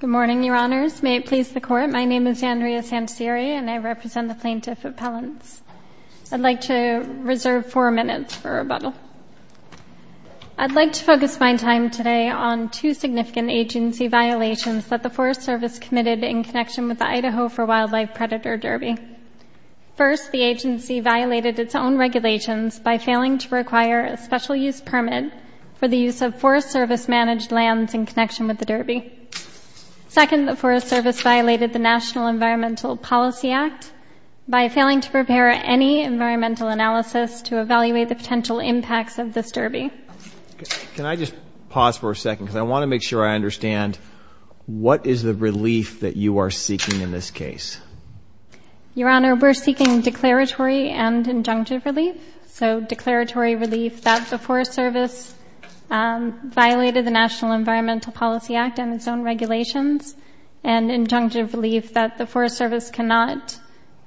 Good morning, Your Honors. May it please the Court, my name is Andrea Sanceri and I represent the Plaintiff Appellants. I'd like to reserve four minutes for rebuttal. I'd like to focus my time today on two significant agency violations that the Forest Service committed in connection with the Idaho for Wildlife Predator Derby. First, the agency violated its own regulations by failing to require a special use permit for the use of Forest Service-managed lands in connection with the derby. Second, the Forest Service violated the National Environmental Policy Act by failing to prepare any environmental analysis to evaluate the potential impacts of this derby. Can I just pause for a second because I want to make sure I understand what is the relief that you are seeking in this case? Your Honor, we're seeking declaratory and injunctive relief. So declaratory relief that the Forest Service violated the National Environmental Policy Act and its own regulations, and injunctive relief that the Forest Service cannot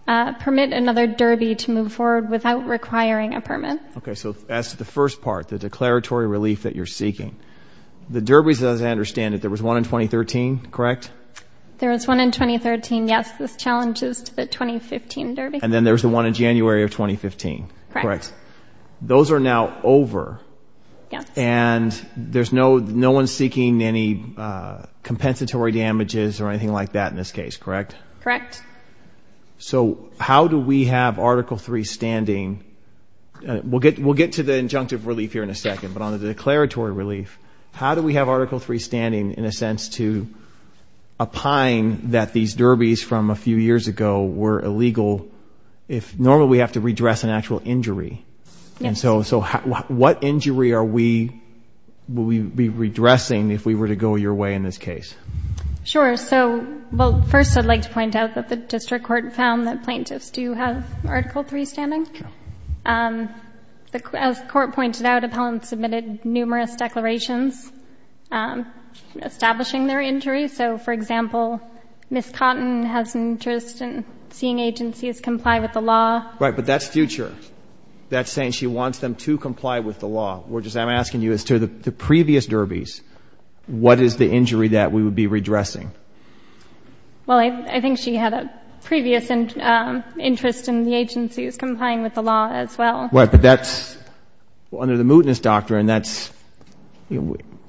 permit another derby to move forward without requiring a permit. Okay, so that's the first part, the declaratory relief that you're seeking. The derbies, as I understand it, there was one in 2013, correct? There was one in 2013, yes. This challenges to the 2015 derby. And then there's the one in January of 2015, correct? Correct. Those are now over. Yes. And there's no one seeking any compensatory damages or anything like that in this case, correct? Correct. So how do we have Article III standing? We'll get to the injunctive relief here in a second, but on the declaratory relief, how do we have Article III standing in a sense to opine that these derbies from a few years ago were illegal if normally we have to redress an actual injury? Yes. And so what injury are we, will we be redressing if we were to go your way in this case? Sure. So, well, first I'd like to point out that the district court found that plaintiffs do have Article III standing. Okay. As the court pointed out, appellants submitted numerous declarations establishing their injury. So, for example, Ms. Cotton has interest in seeing agencies comply with the law. Right, but that's future. That's saying she wants them to comply with the law. I'm asking you as to the previous derbies, what is the injury that we would be redressing? Well, I think she had a previous interest in the agencies complying with the law as well. Right, but that's under the mootness doctrine.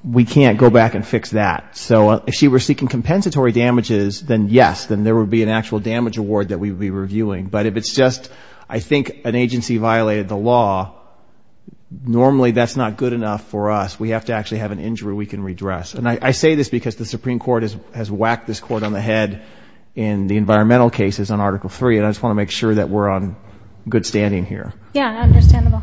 We can't go back and fix that. So if she were seeking compensatory damages, then yes, then there would be an actual damage award that we would be reviewing. But if it's just, I think, an agency violated the law, normally that's not good enough for us. We have to actually have an injury we can redress. And I say this because the Supreme Court has whacked this court on the head in the environmental cases on Article III, and I just want to make sure that we're on good standing here. Yeah, understandable.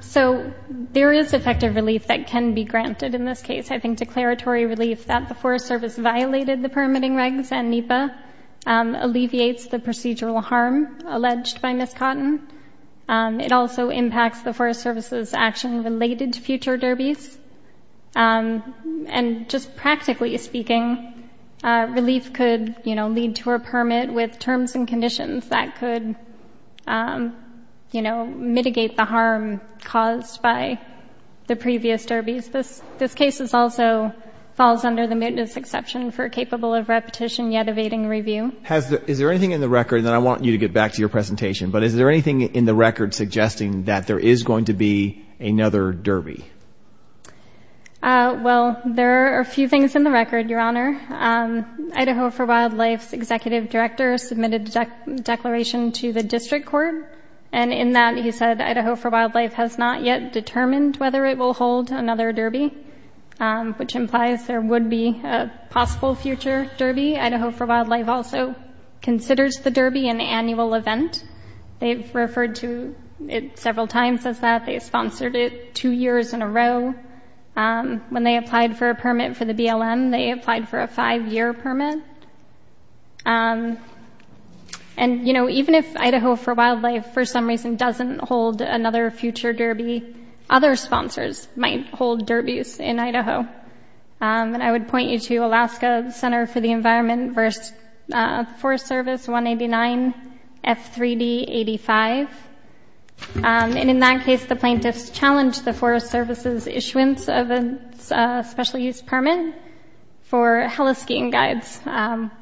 So there is effective relief that can be granted in this case. I think declaratory relief that the Forest Service violated the permitting regs and NEPA alleviates the procedural harm alleged by Ms. Cotton. It also impacts the Forest Service's action related to future derbies. And just practically speaking, relief could, you know, lead to a permit with terms and conditions that could, you know, mitigate the harm caused by the previous derbies. This case also falls under the mootness exception for capable of repetition yet evading review. Is there anything in the record, and then I want you to get back to your presentation, but is there anything in the record suggesting that there is going to be another derby? Well, there are a few things in the record, Your Honor. Idaho for Wildlife's executive director submitted a declaration to the district court, and in that he said Idaho for Wildlife has not yet determined whether it will hold another derby, which implies there would be a possible future derby. Idaho for Wildlife also considers the derby an annual event. They've referred to it several times as that. They've sponsored it two years in a row. When they applied for a permit for the BLM, they applied for a five-year permit. And, you know, even if Idaho for Wildlife for some reason doesn't hold another future derby, other sponsors might hold derbies in Idaho. And I would point you to Alaska Center for the Environment versus Forest Service 189 F3D85. And in that case, the plaintiffs challenged the Forest Service's issuance of a special use permit for heliskiing guides.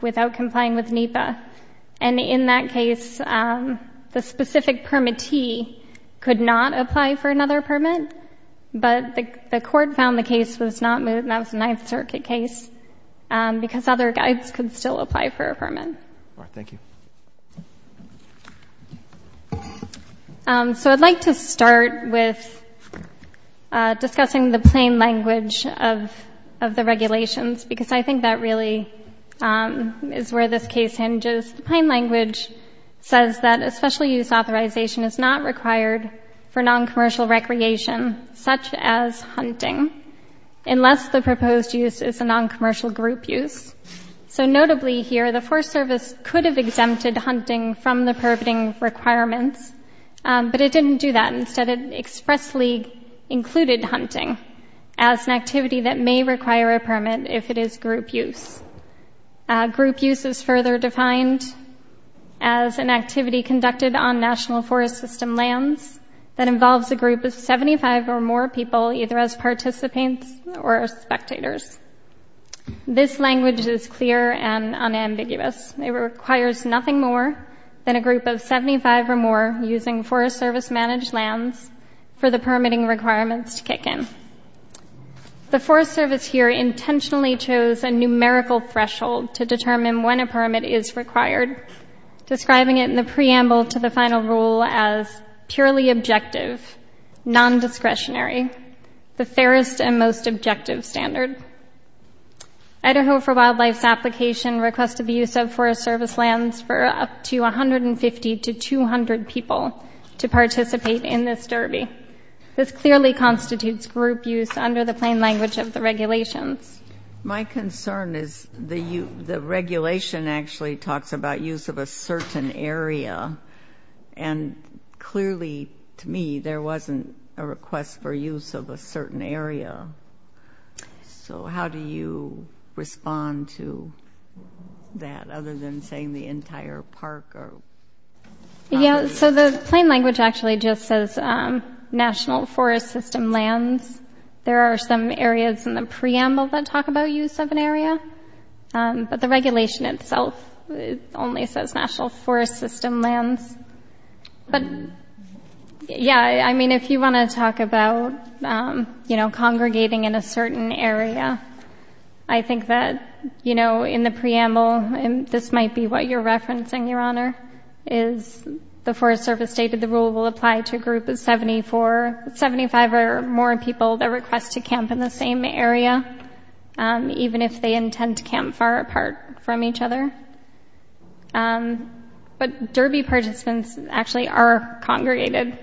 without complying with NEPA. And in that case, the specific permittee could not apply for another permit, but the court found the case was not moved, and that was a Ninth Circuit case, because other guides could still apply for a permit. All right. Thank you. So I'd like to start with discussing the plain language of the regulations, because I think that really is where this case hinges. The plain language says that a special use authorization is not required for noncommercial recreation, such as hunting, unless the proposed use is a noncommercial group use. So notably here, the Forest Service could have exempted hunting from the permitting requirements, but it didn't do that. Instead, it expressly included hunting as an activity that may require a permit if it is group use. Group use is further defined as an activity conducted on National Forest System lands that involves a group of 75 or more people, either as participants or as spectators. This language is clear and unambiguous. It requires nothing more than a group of 75 or more using Forest Service-managed lands for the permitting requirements to kick in. The Forest Service here intentionally chose a numerical threshold to determine when a permit is required, describing it in the preamble to the final rule as purely objective, non-discretionary, the fairest and most objective standard. Idaho for Wildlife's application requested the use of Forest Service lands for up to 150 to 200 people to participate in this derby. This clearly constitutes group use under the plain language of the regulations. My concern is the regulation actually talks about use of a certain area, and clearly to me there wasn't a request for use of a certain area. So how do you respond to that other than saying the entire park or... Yeah, so the plain language actually just says National Forest System lands. There are some areas in the preamble that talk about use of an area, but the regulation itself only says National Forest System lands. But, yeah, I mean if you want to talk about congregating in a certain area, I think that in the preamble, and this might be what you're referencing, Your Honor, is the Forest Service stated the rule will apply to a group of 75 or more people that request to camp in the same area, even if they intend to camp far apart from each other. But derby participants actually are congregated.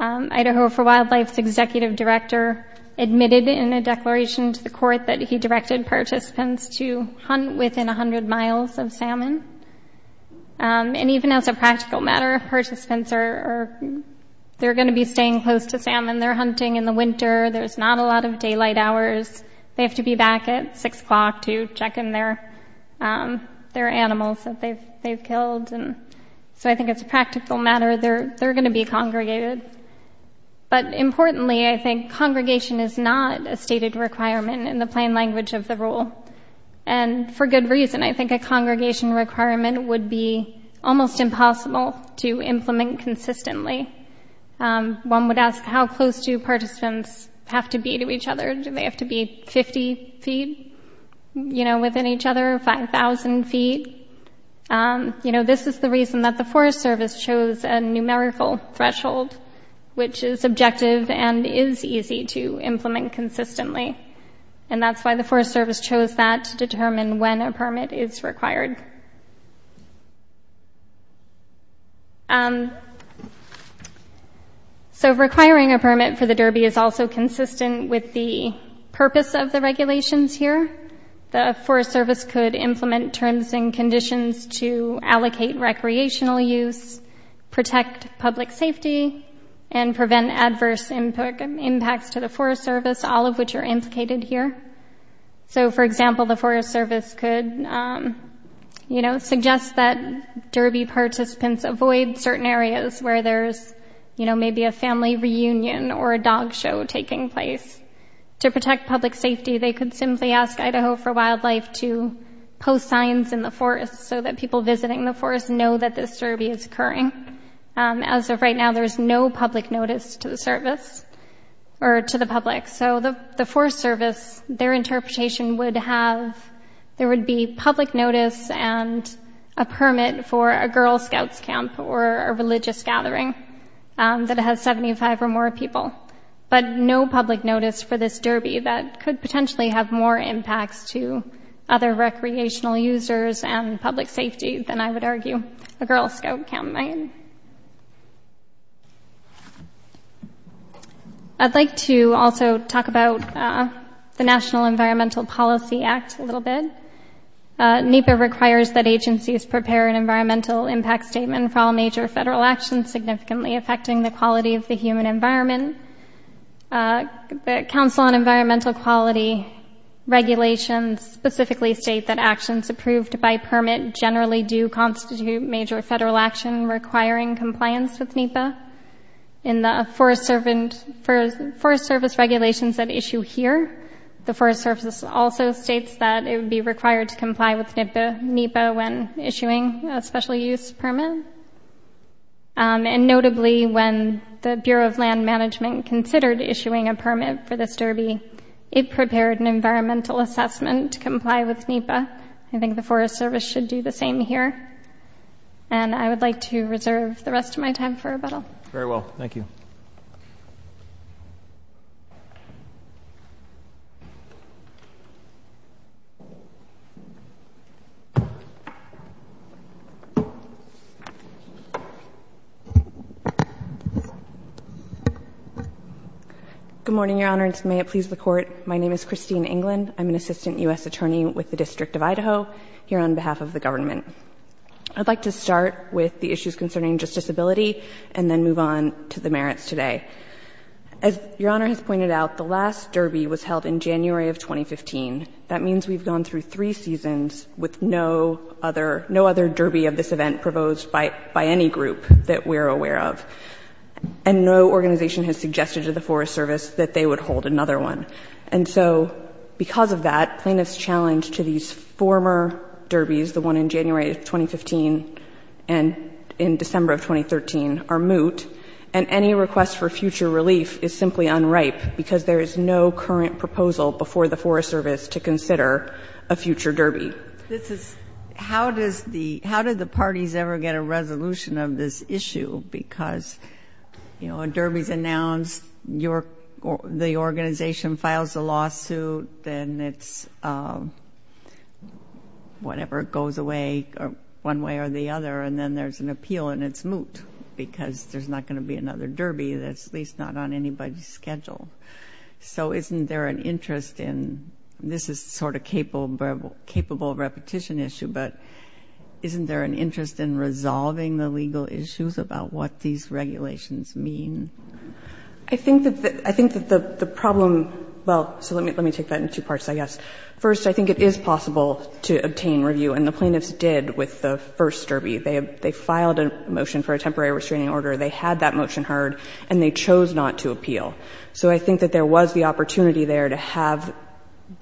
Idaho for Wildlife's executive director admitted in a declaration to the court that he directed participants to hunt within 100 miles of salmon. And even as a practical matter, participants are going to be staying close to salmon. They're hunting in the winter. There's not a lot of daylight hours. They have to be back at 6 o'clock to check in their animals that they've killed. So I think it's a practical matter. They're going to be congregated. But importantly, I think congregation is not a stated requirement in the plain language of the rule. And for good reason. I think a congregation requirement would be almost impossible to implement consistently. One would ask how close do participants have to be to each other? Do they have to be 50 feet within each other, 5,000 feet? This is the reason that the Forest Service chose a numerical threshold, which is objective and is easy to implement consistently. And that's why the Forest Service chose that to determine when a permit is required. So requiring a permit for the Derby is also consistent with the purpose of the regulations here. The Forest Service could implement terms and conditions to allocate recreational use, protect public safety, and prevent adverse impacts to the Forest Service, all of which are implicated here. So, for example, the Forest Service could suggest that Derby participants avoid certain areas where there's maybe a family reunion or a dog show taking place. To protect public safety, they could simply ask Idaho for Wildlife to post signs in the forest so that people visiting the forest know that this Derby is occurring. As of right now, there is no public notice to the service, or to the public. So the Forest Service, their interpretation would have, there would be public notice and a permit for a Girl Scouts camp or a religious gathering that has 75 or more people, but no public notice for this Derby that could potentially have more impacts to other recreational users and public safety than, I would argue, a Girl Scout camp might. I'd like to also talk about the National Environmental Policy Act a little bit. NEPA requires that agencies prepare an environmental impact statement for all major federal actions significantly affecting the quality of the human environment. The Council on Environmental Quality regulations specifically state that actions approved by permit generally do constitute major federal action requiring compliance with NEPA. In the Forest Service regulations at issue here, the Forest Service also states that it would be required to comply with NEPA when issuing a special use permit. And notably, when the Bureau of Land Management considered issuing a permit for this Derby, it prepared an environmental assessment to comply with NEPA. I think the Forest Service should do the same here. And I would like to reserve the rest of my time for rebuttal. Very well. Thank you. Good morning, Your Honor, and may it please the Court. My name is Christine England. I'm an assistant U.S. attorney with the District of Idaho here on behalf of the government. I'd like to start with the issues concerning justiciability and then move on to the merits today. As Your Honor has pointed out, the last Derby was held in January of 2015. That means we've gone through three seasons with no other Derby of this event proposed by any group that we're aware of. And no organization has suggested to the Forest Service that they would hold another one. And so because of that, plaintiff's challenge to these former Derbys, the one in January of 2015 and in December of 2013, are moot. And any request for future relief is simply unripe, because there is no current proposal before the Forest Service to consider a future Derby. This is — how does the — how did the parties ever get a resolution of this issue? Because, you know, a Derby's announced, the organization files a lawsuit, then it's whatever goes away one way or the other, and then there's an appeal and it's moot because there's not going to be another Derby that's at least not on anybody's schedule. So isn't there an interest in — this is sort of a capable repetition issue, but isn't there an interest in resolving the legal issues about what these regulations mean? I think that the — I think that the problem — well, so let me take that in two parts, I guess. First, I think it is possible to obtain review, and the plaintiffs did with the first Derby. They filed a motion for a temporary restraining order. They had that motion heard, and they chose not to appeal. So I think that there was the opportunity there to have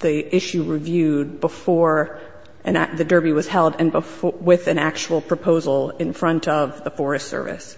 the issue reviewed before the Derby was held and before — with an actual proposal in front of the Forest Service.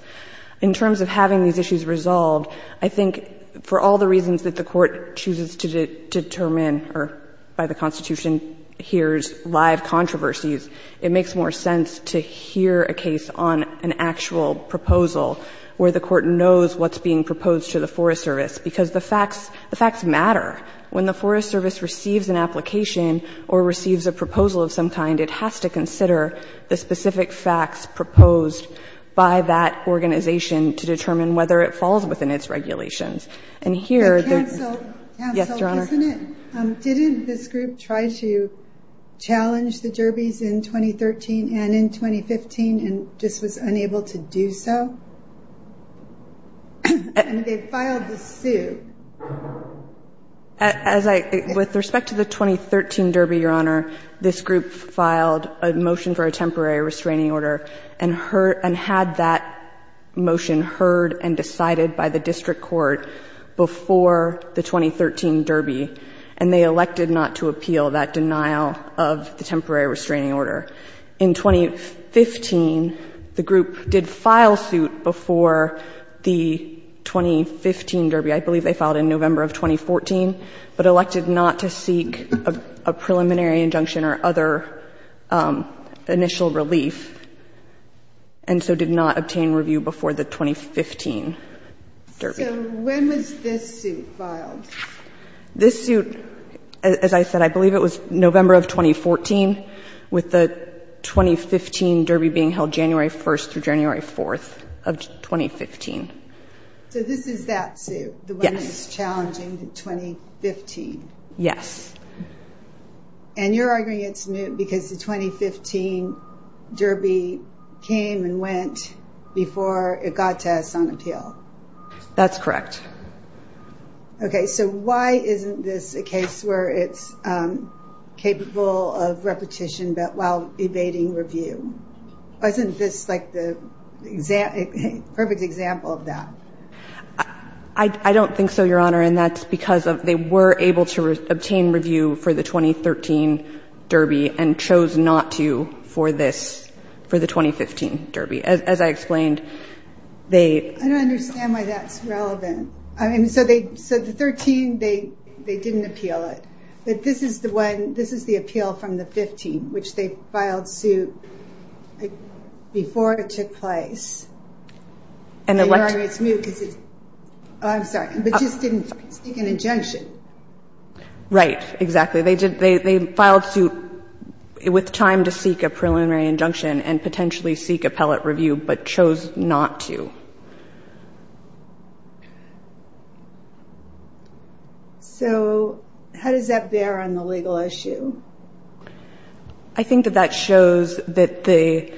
In terms of having these issues resolved, I think for all the reasons that the Court chooses to determine or by the Constitution hears live controversies, it makes more sense to hear a case on an actual proposal where the Court knows what's being proposed to the Forest Service, because the facts — the facts matter. When the Forest Service receives an application or receives a proposal of some kind, it has to consider the specific facts proposed by that organization to determine whether it falls within its regulations. And here — But cancel — cancel, isn't it? Yes, Your Honor. Didn't this group try to challenge the Derbys in 2013 and in 2015 and just was unable to do so? And they filed the suit. As I — with respect to the 2013 Derby, Your Honor, this group filed a motion for a temporary restraining order and heard — and had that motion heard and decided by the district court before the 2013 Derby, and they elected not to appeal that denial of the temporary restraining order. In 2015, the group did file suit before the 2015 Derby. I believe they filed in November of 2014, but elected not to seek a preliminary injunction or other initial relief, and so did not obtain review before the 2015 Derby. So when was this suit filed? This suit — as I said, I believe it was November of 2014, with the 2015 Derby being held January 1st through January 4th of 2015. So this is that suit? Yes. The one that's challenging the 2015? Yes. And you're arguing it's new because the 2015 Derby came and went before it got to us on appeal? That's correct. Okay, so why isn't this a case where it's capable of repetition but while evading review? Wasn't this, like, the perfect example of that? I don't think so, Your Honor, and that's because they were able to obtain review for the 2013 Derby and chose not to for this — for the 2015 Derby. As I explained, they — I don't understand why that's relevant. I mean, so the 13, they didn't appeal it. But this is the one — this is the appeal from the 15, which they filed suit before it took place. And they're like — And you're arguing it's new because it's — oh, I'm sorry, but just didn't seek an injunction. Right. Exactly. They filed suit with time to seek a preliminary injunction and potentially seek appellate review but chose not to. So how does that bear on the legal issue? I think that that shows that the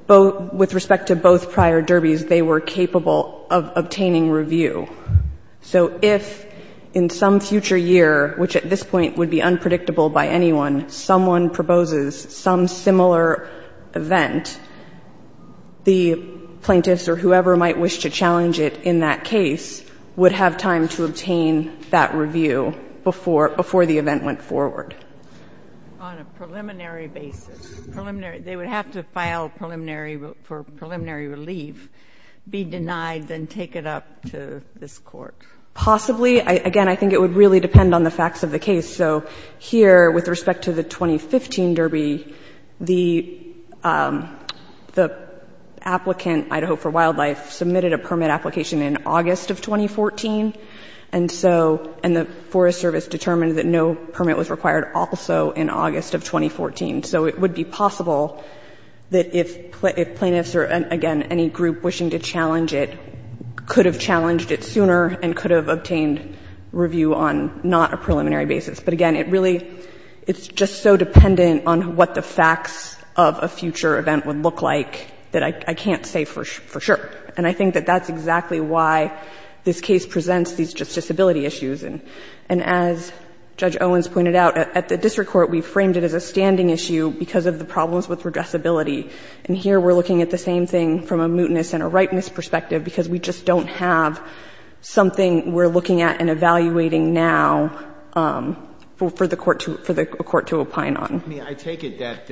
— with respect to both prior Derbys, they were capable of obtaining review. So if in some future year, which at this point would be unpredictable by anyone, someone proposes some similar event, the plaintiffs or whoever might wish to challenge it in that case would have time to obtain that review before — before the event went forward. On a preliminary basis, preliminary — they would have to file preliminary — for preliminary relief, be denied, then take it up to this Court. Possibly. Again, I think it would really depend on the facts of the case. So here, with respect to the 2015 Derby, the applicant, Idaho for Wildlife, submitted a permit application in August of 2014. And so — and the Forest Service determined that no permit was required also in August of 2014. So it would be possible that if plaintiffs or, again, any group wishing to challenge it sooner and could have obtained review on not a preliminary basis. But again, it really — it's just so dependent on what the facts of a future event would look like that I can't say for sure. And I think that that's exactly why this case presents these justiciability issues. And as Judge Owens pointed out, at the district court we framed it as a standing issue because of the problems with redressability. And here we're looking at the same thing from a mootness and a ripeness perspective because we just don't have something we're looking at and evaluating now for the court to opine on. I mean, I take it that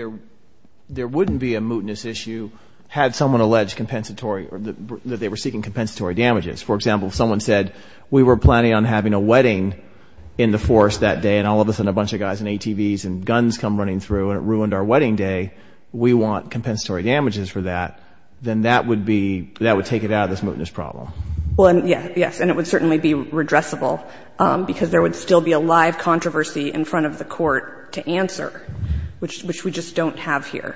there wouldn't be a mootness issue had someone alleged compensatory — that they were seeking compensatory damages. For example, if someone said, we were planning on having a wedding in the forest that day and all of a sudden a bunch of guys in ATVs and guns come running through and it ruined our wedding day, we want compensatory damages for that, then that would be — that would take it out of this mootness problem. Well, yes. Yes. And it would certainly be redressable because there would still be a live controversy in front of the court to answer, which we just don't have here.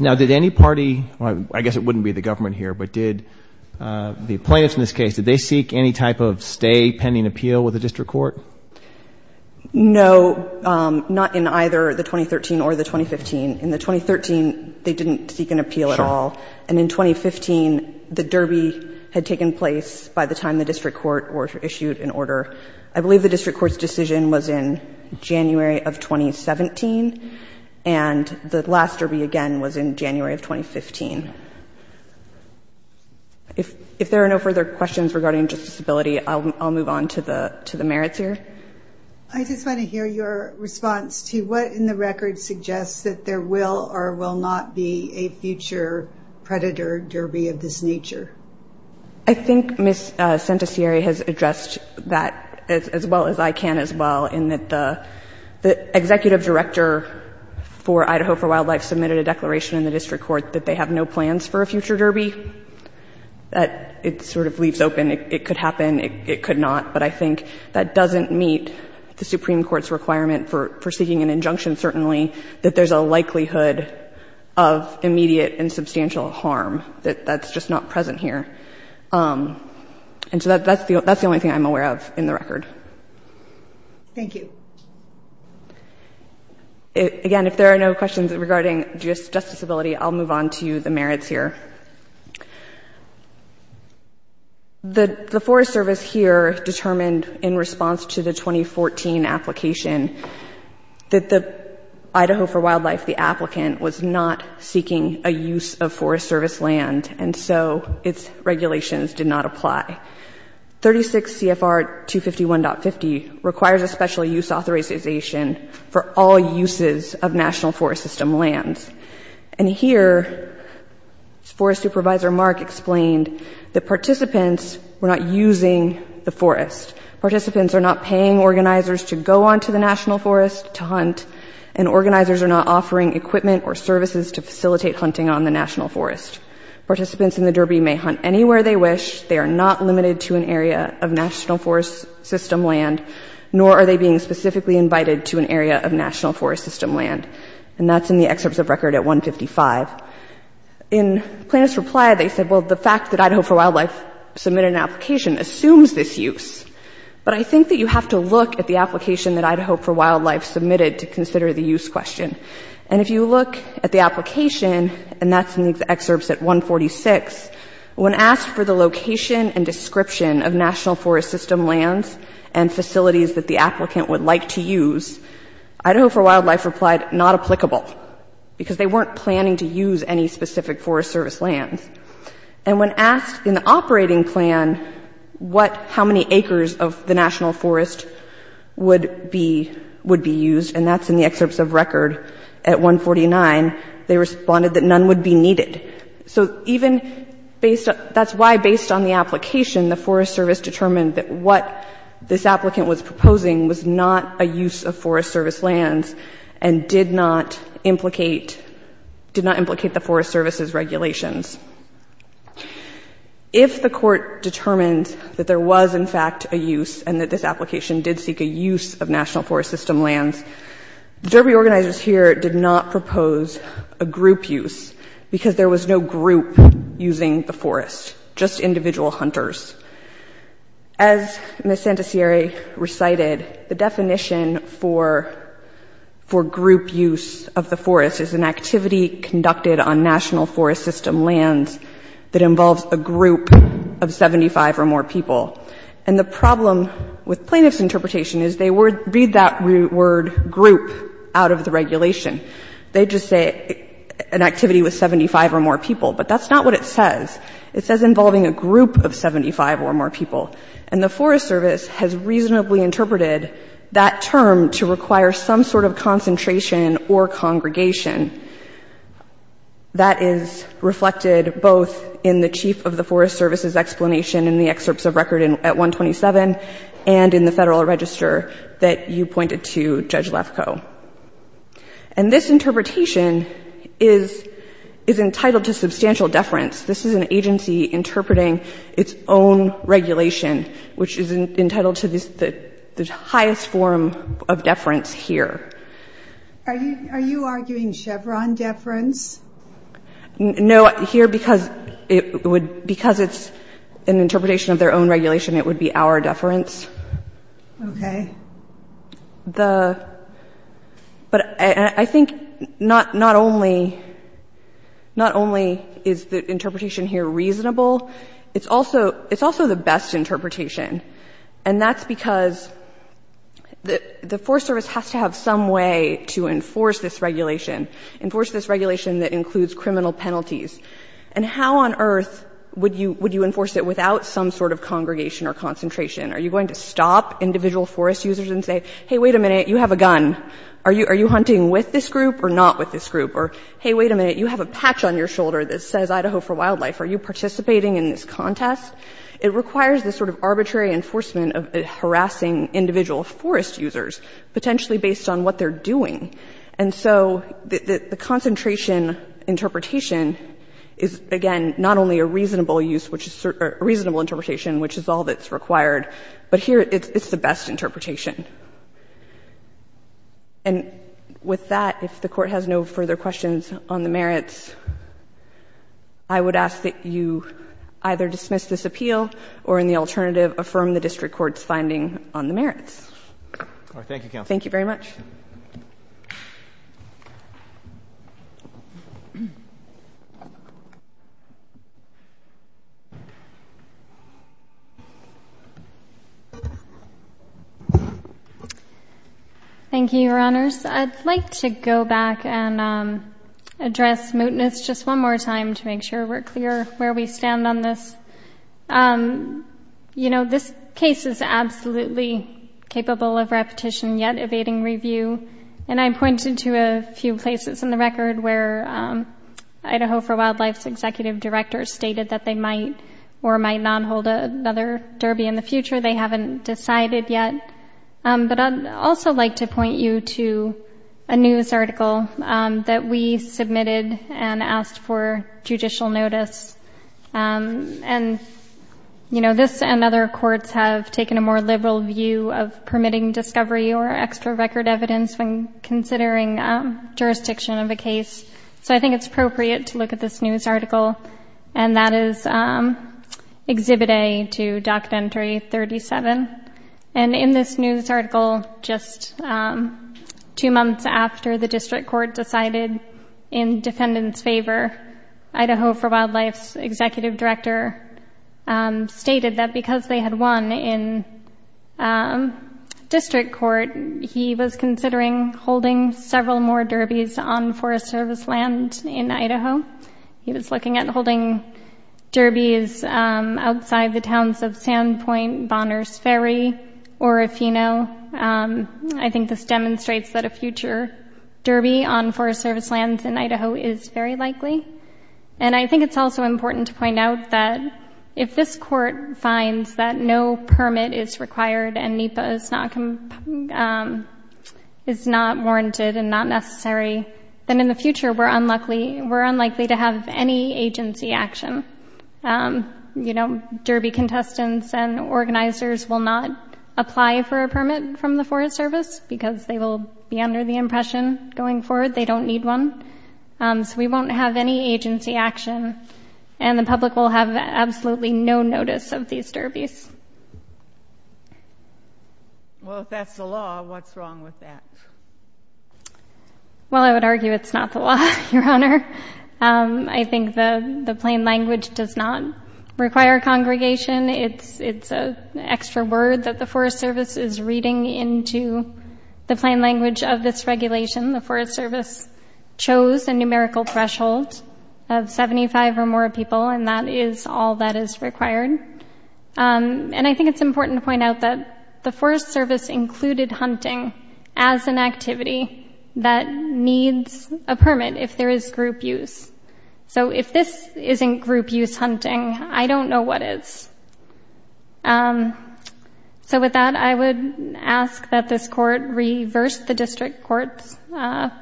Now, did any party — I guess it wouldn't be the government here, but did the plaintiffs in this case, did they seek any type of stay pending appeal with the district court? No. Not in either the 2013 or the 2015. In the 2013, they didn't seek an appeal at all. Sure. And in 2015, the derby had taken place by the time the district court were issued an order. I believe the district court's decision was in January of 2017, and the last derby, again, was in January of 2015. If there are no further questions regarding justiceability, I'll move on to the merits here. I just want to hear your response to what in the record suggests that there will or will not be a future predator derby of this nature. I think Ms. Centesieri has addressed that as well as I can as well, in that the executive director for Idaho for Wildlife submitted a declaration in the district court that they have no plans for a future derby. It sort of leaves open it could happen, it could not, but I think that doesn't meet the Supreme Court's requirement for seeking an injunction, certainly, that there's a likelihood of immediate and substantial harm. That's just not present here. And so that's the only thing I'm aware of in the record. Thank you. Again, if there are no questions regarding justiceability, I'll move on to the merits here. The Forest Service here determined in response to the 2014 application that the Idaho for Wildlife, the applicant, was not seeking a use of Forest Service land, and so its regulations did not apply. 36 CFR 251.50 requires a special use authorization for all uses of National Forest System lands. And here Forest Supervisor Mark explained that participants were not using the forest. Participants are not paying organizers to go onto the National Forest to hunt, and organizers are not offering equipment or services to facilitate hunting on the National Forest. Participants in the derby may hunt anywhere they wish. They are not limited to an area of National Forest System land, nor are they being specifically invited to an area of National Forest System land. And that's in the excerpts of record at 155. In Plaintiff's reply, they said, well, the fact that Idaho for Wildlife submitted an application assumes this use. But I think that you have to look at the application that Idaho for Wildlife submitted to consider the use question. And if you look at the application, and that's in the excerpts at 146, when asked for the location and description of National Forest System lands and facilities that the applicant would like to use, Idaho for Wildlife replied, not applicable, because they weren't planning to use any specific Forest Service lands. And when asked in the operating plan what, how many acres of the National Forest would be used, and that's in the excerpts of record at 149, they responded that none would be needed. So even based, that's why based on the application, the Forest Service determined that what this applicant was proposing was not a use of Forest Service lands, and did not implicate, did not implicate the Forest Service's regulations. If the court determined that there was, in fact, a use, and that this application did seek a use of National Forest System lands, the Derby organizers here did not propose a group use, because there was no group using the forest, just individual hunters. As Ms. Santasieri recited, the definition for group use of the forest is an activity conducted on National Forest System lands that involves a group of 75 or more people. And the problem with plaintiff's interpretation is they read that word group out of the regulation. They just say an activity with 75 or more people. But that's not what it says. It says involving a group of 75 or more people. And the Forest Service has reasonably interpreted that term to require some sort of concentration or congregation. That is reflected both in the chief of the Forest Service's explanation in the excerpts of record at 127 and in the Federal Register that you pointed to, Judge Lefkoe. And this interpretation is entitled to substantial deference. This is an agency interpreting its own regulation, which is entitled to the highest form of deference here. Are you arguing Chevron deference? No. Here, because it's an interpretation of their own regulation, it would be our deference. Okay. But I think not only is the interpretation here reasonable, it's also the best interpretation. And that's because the Forest Service has to have some way to enforce this regulation, enforce this regulation that includes criminal penalties. And how on earth would you enforce it without some sort of congregation or concentration? Are you going to stop individual forest users and say, hey, wait a minute, you have a gun. Are you hunting with this group or not with this group? Or, hey, wait a minute, you have a patch on your shoulder that says Idaho for Wildlife. Are you participating in this contest? It requires this sort of arbitrary enforcement of harassing individual forest users, potentially based on what they're doing. And so the concentration interpretation is, again, not only a reasonable use, which is a reasonable interpretation, which is all that's required, but here it's the best interpretation. And with that, if the Court has no further questions on the merits, I would ask that you either dismiss this appeal or, in the alternative, affirm the district court's finding on the merits. Thank you, Counsel. Thank you very much. Thank you, Your Honors. I'd like to go back and address mootness just one more time to make sure we're clear where we stand on this. You know, this case is absolutely capable of repetition, yet evading review. And I pointed to a few places in the record where Idaho for Wildlife's executive directors stated that they might or might not hold another derby in the future. They haven't decided yet. But I'd also like to point you to a news article that we submitted and asked for judicial notice. And, you know, this and other courts have taken a more liberal view of permitting discovery or extra record evidence when considering jurisdiction of a case. So I think it's appropriate to look at this news article. And that is Exhibit A to Documentary 37. And in this news article, just two months after the district court decided in defendants' favor, Idaho for Wildlife's executive director stated that because they had won in district court, he was considering holding several more derbies on Forest Service land in Idaho. He was looking at holding derbies outside the towns of Sandpoint, Bonner's Ferry, or if you know, I think this demonstrates that a future derby on Forest Service lands in Idaho is very likely. And I think it's also important to point out that if this court finds that no permit is not warranted and not necessary, then in the future we're unlikely to have any agency action. You know, derby contestants and organizers will not apply for a permit from the Forest Service because they will be under the impression going forward they don't need one. So we won't have any agency action. And the public will have absolutely no notice of these derbies. Well, if that's the law, what's wrong with that? Well, I would argue it's not the law, Your Honor. I think the plain language does not require congregation. It's an extra word that the Forest Service is reading into the plain language of this regulation. The Forest Service chose a numerical threshold of 75 or more people and that is all that is required. And I think it's important to point out that the Forest Service included hunting as an activity that needs a permit if there is group use. So if this isn't group use hunting, I don't know what is. So with that, I would ask that this court reverse the district court's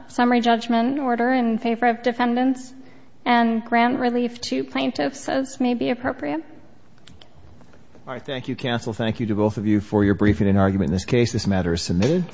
summary judgment order in favor of defendants and grant relief to plaintiffs as may be appropriate. All right. Thank you, counsel. Thank you to both of you for your briefing and argument in this case. This matter is submitted.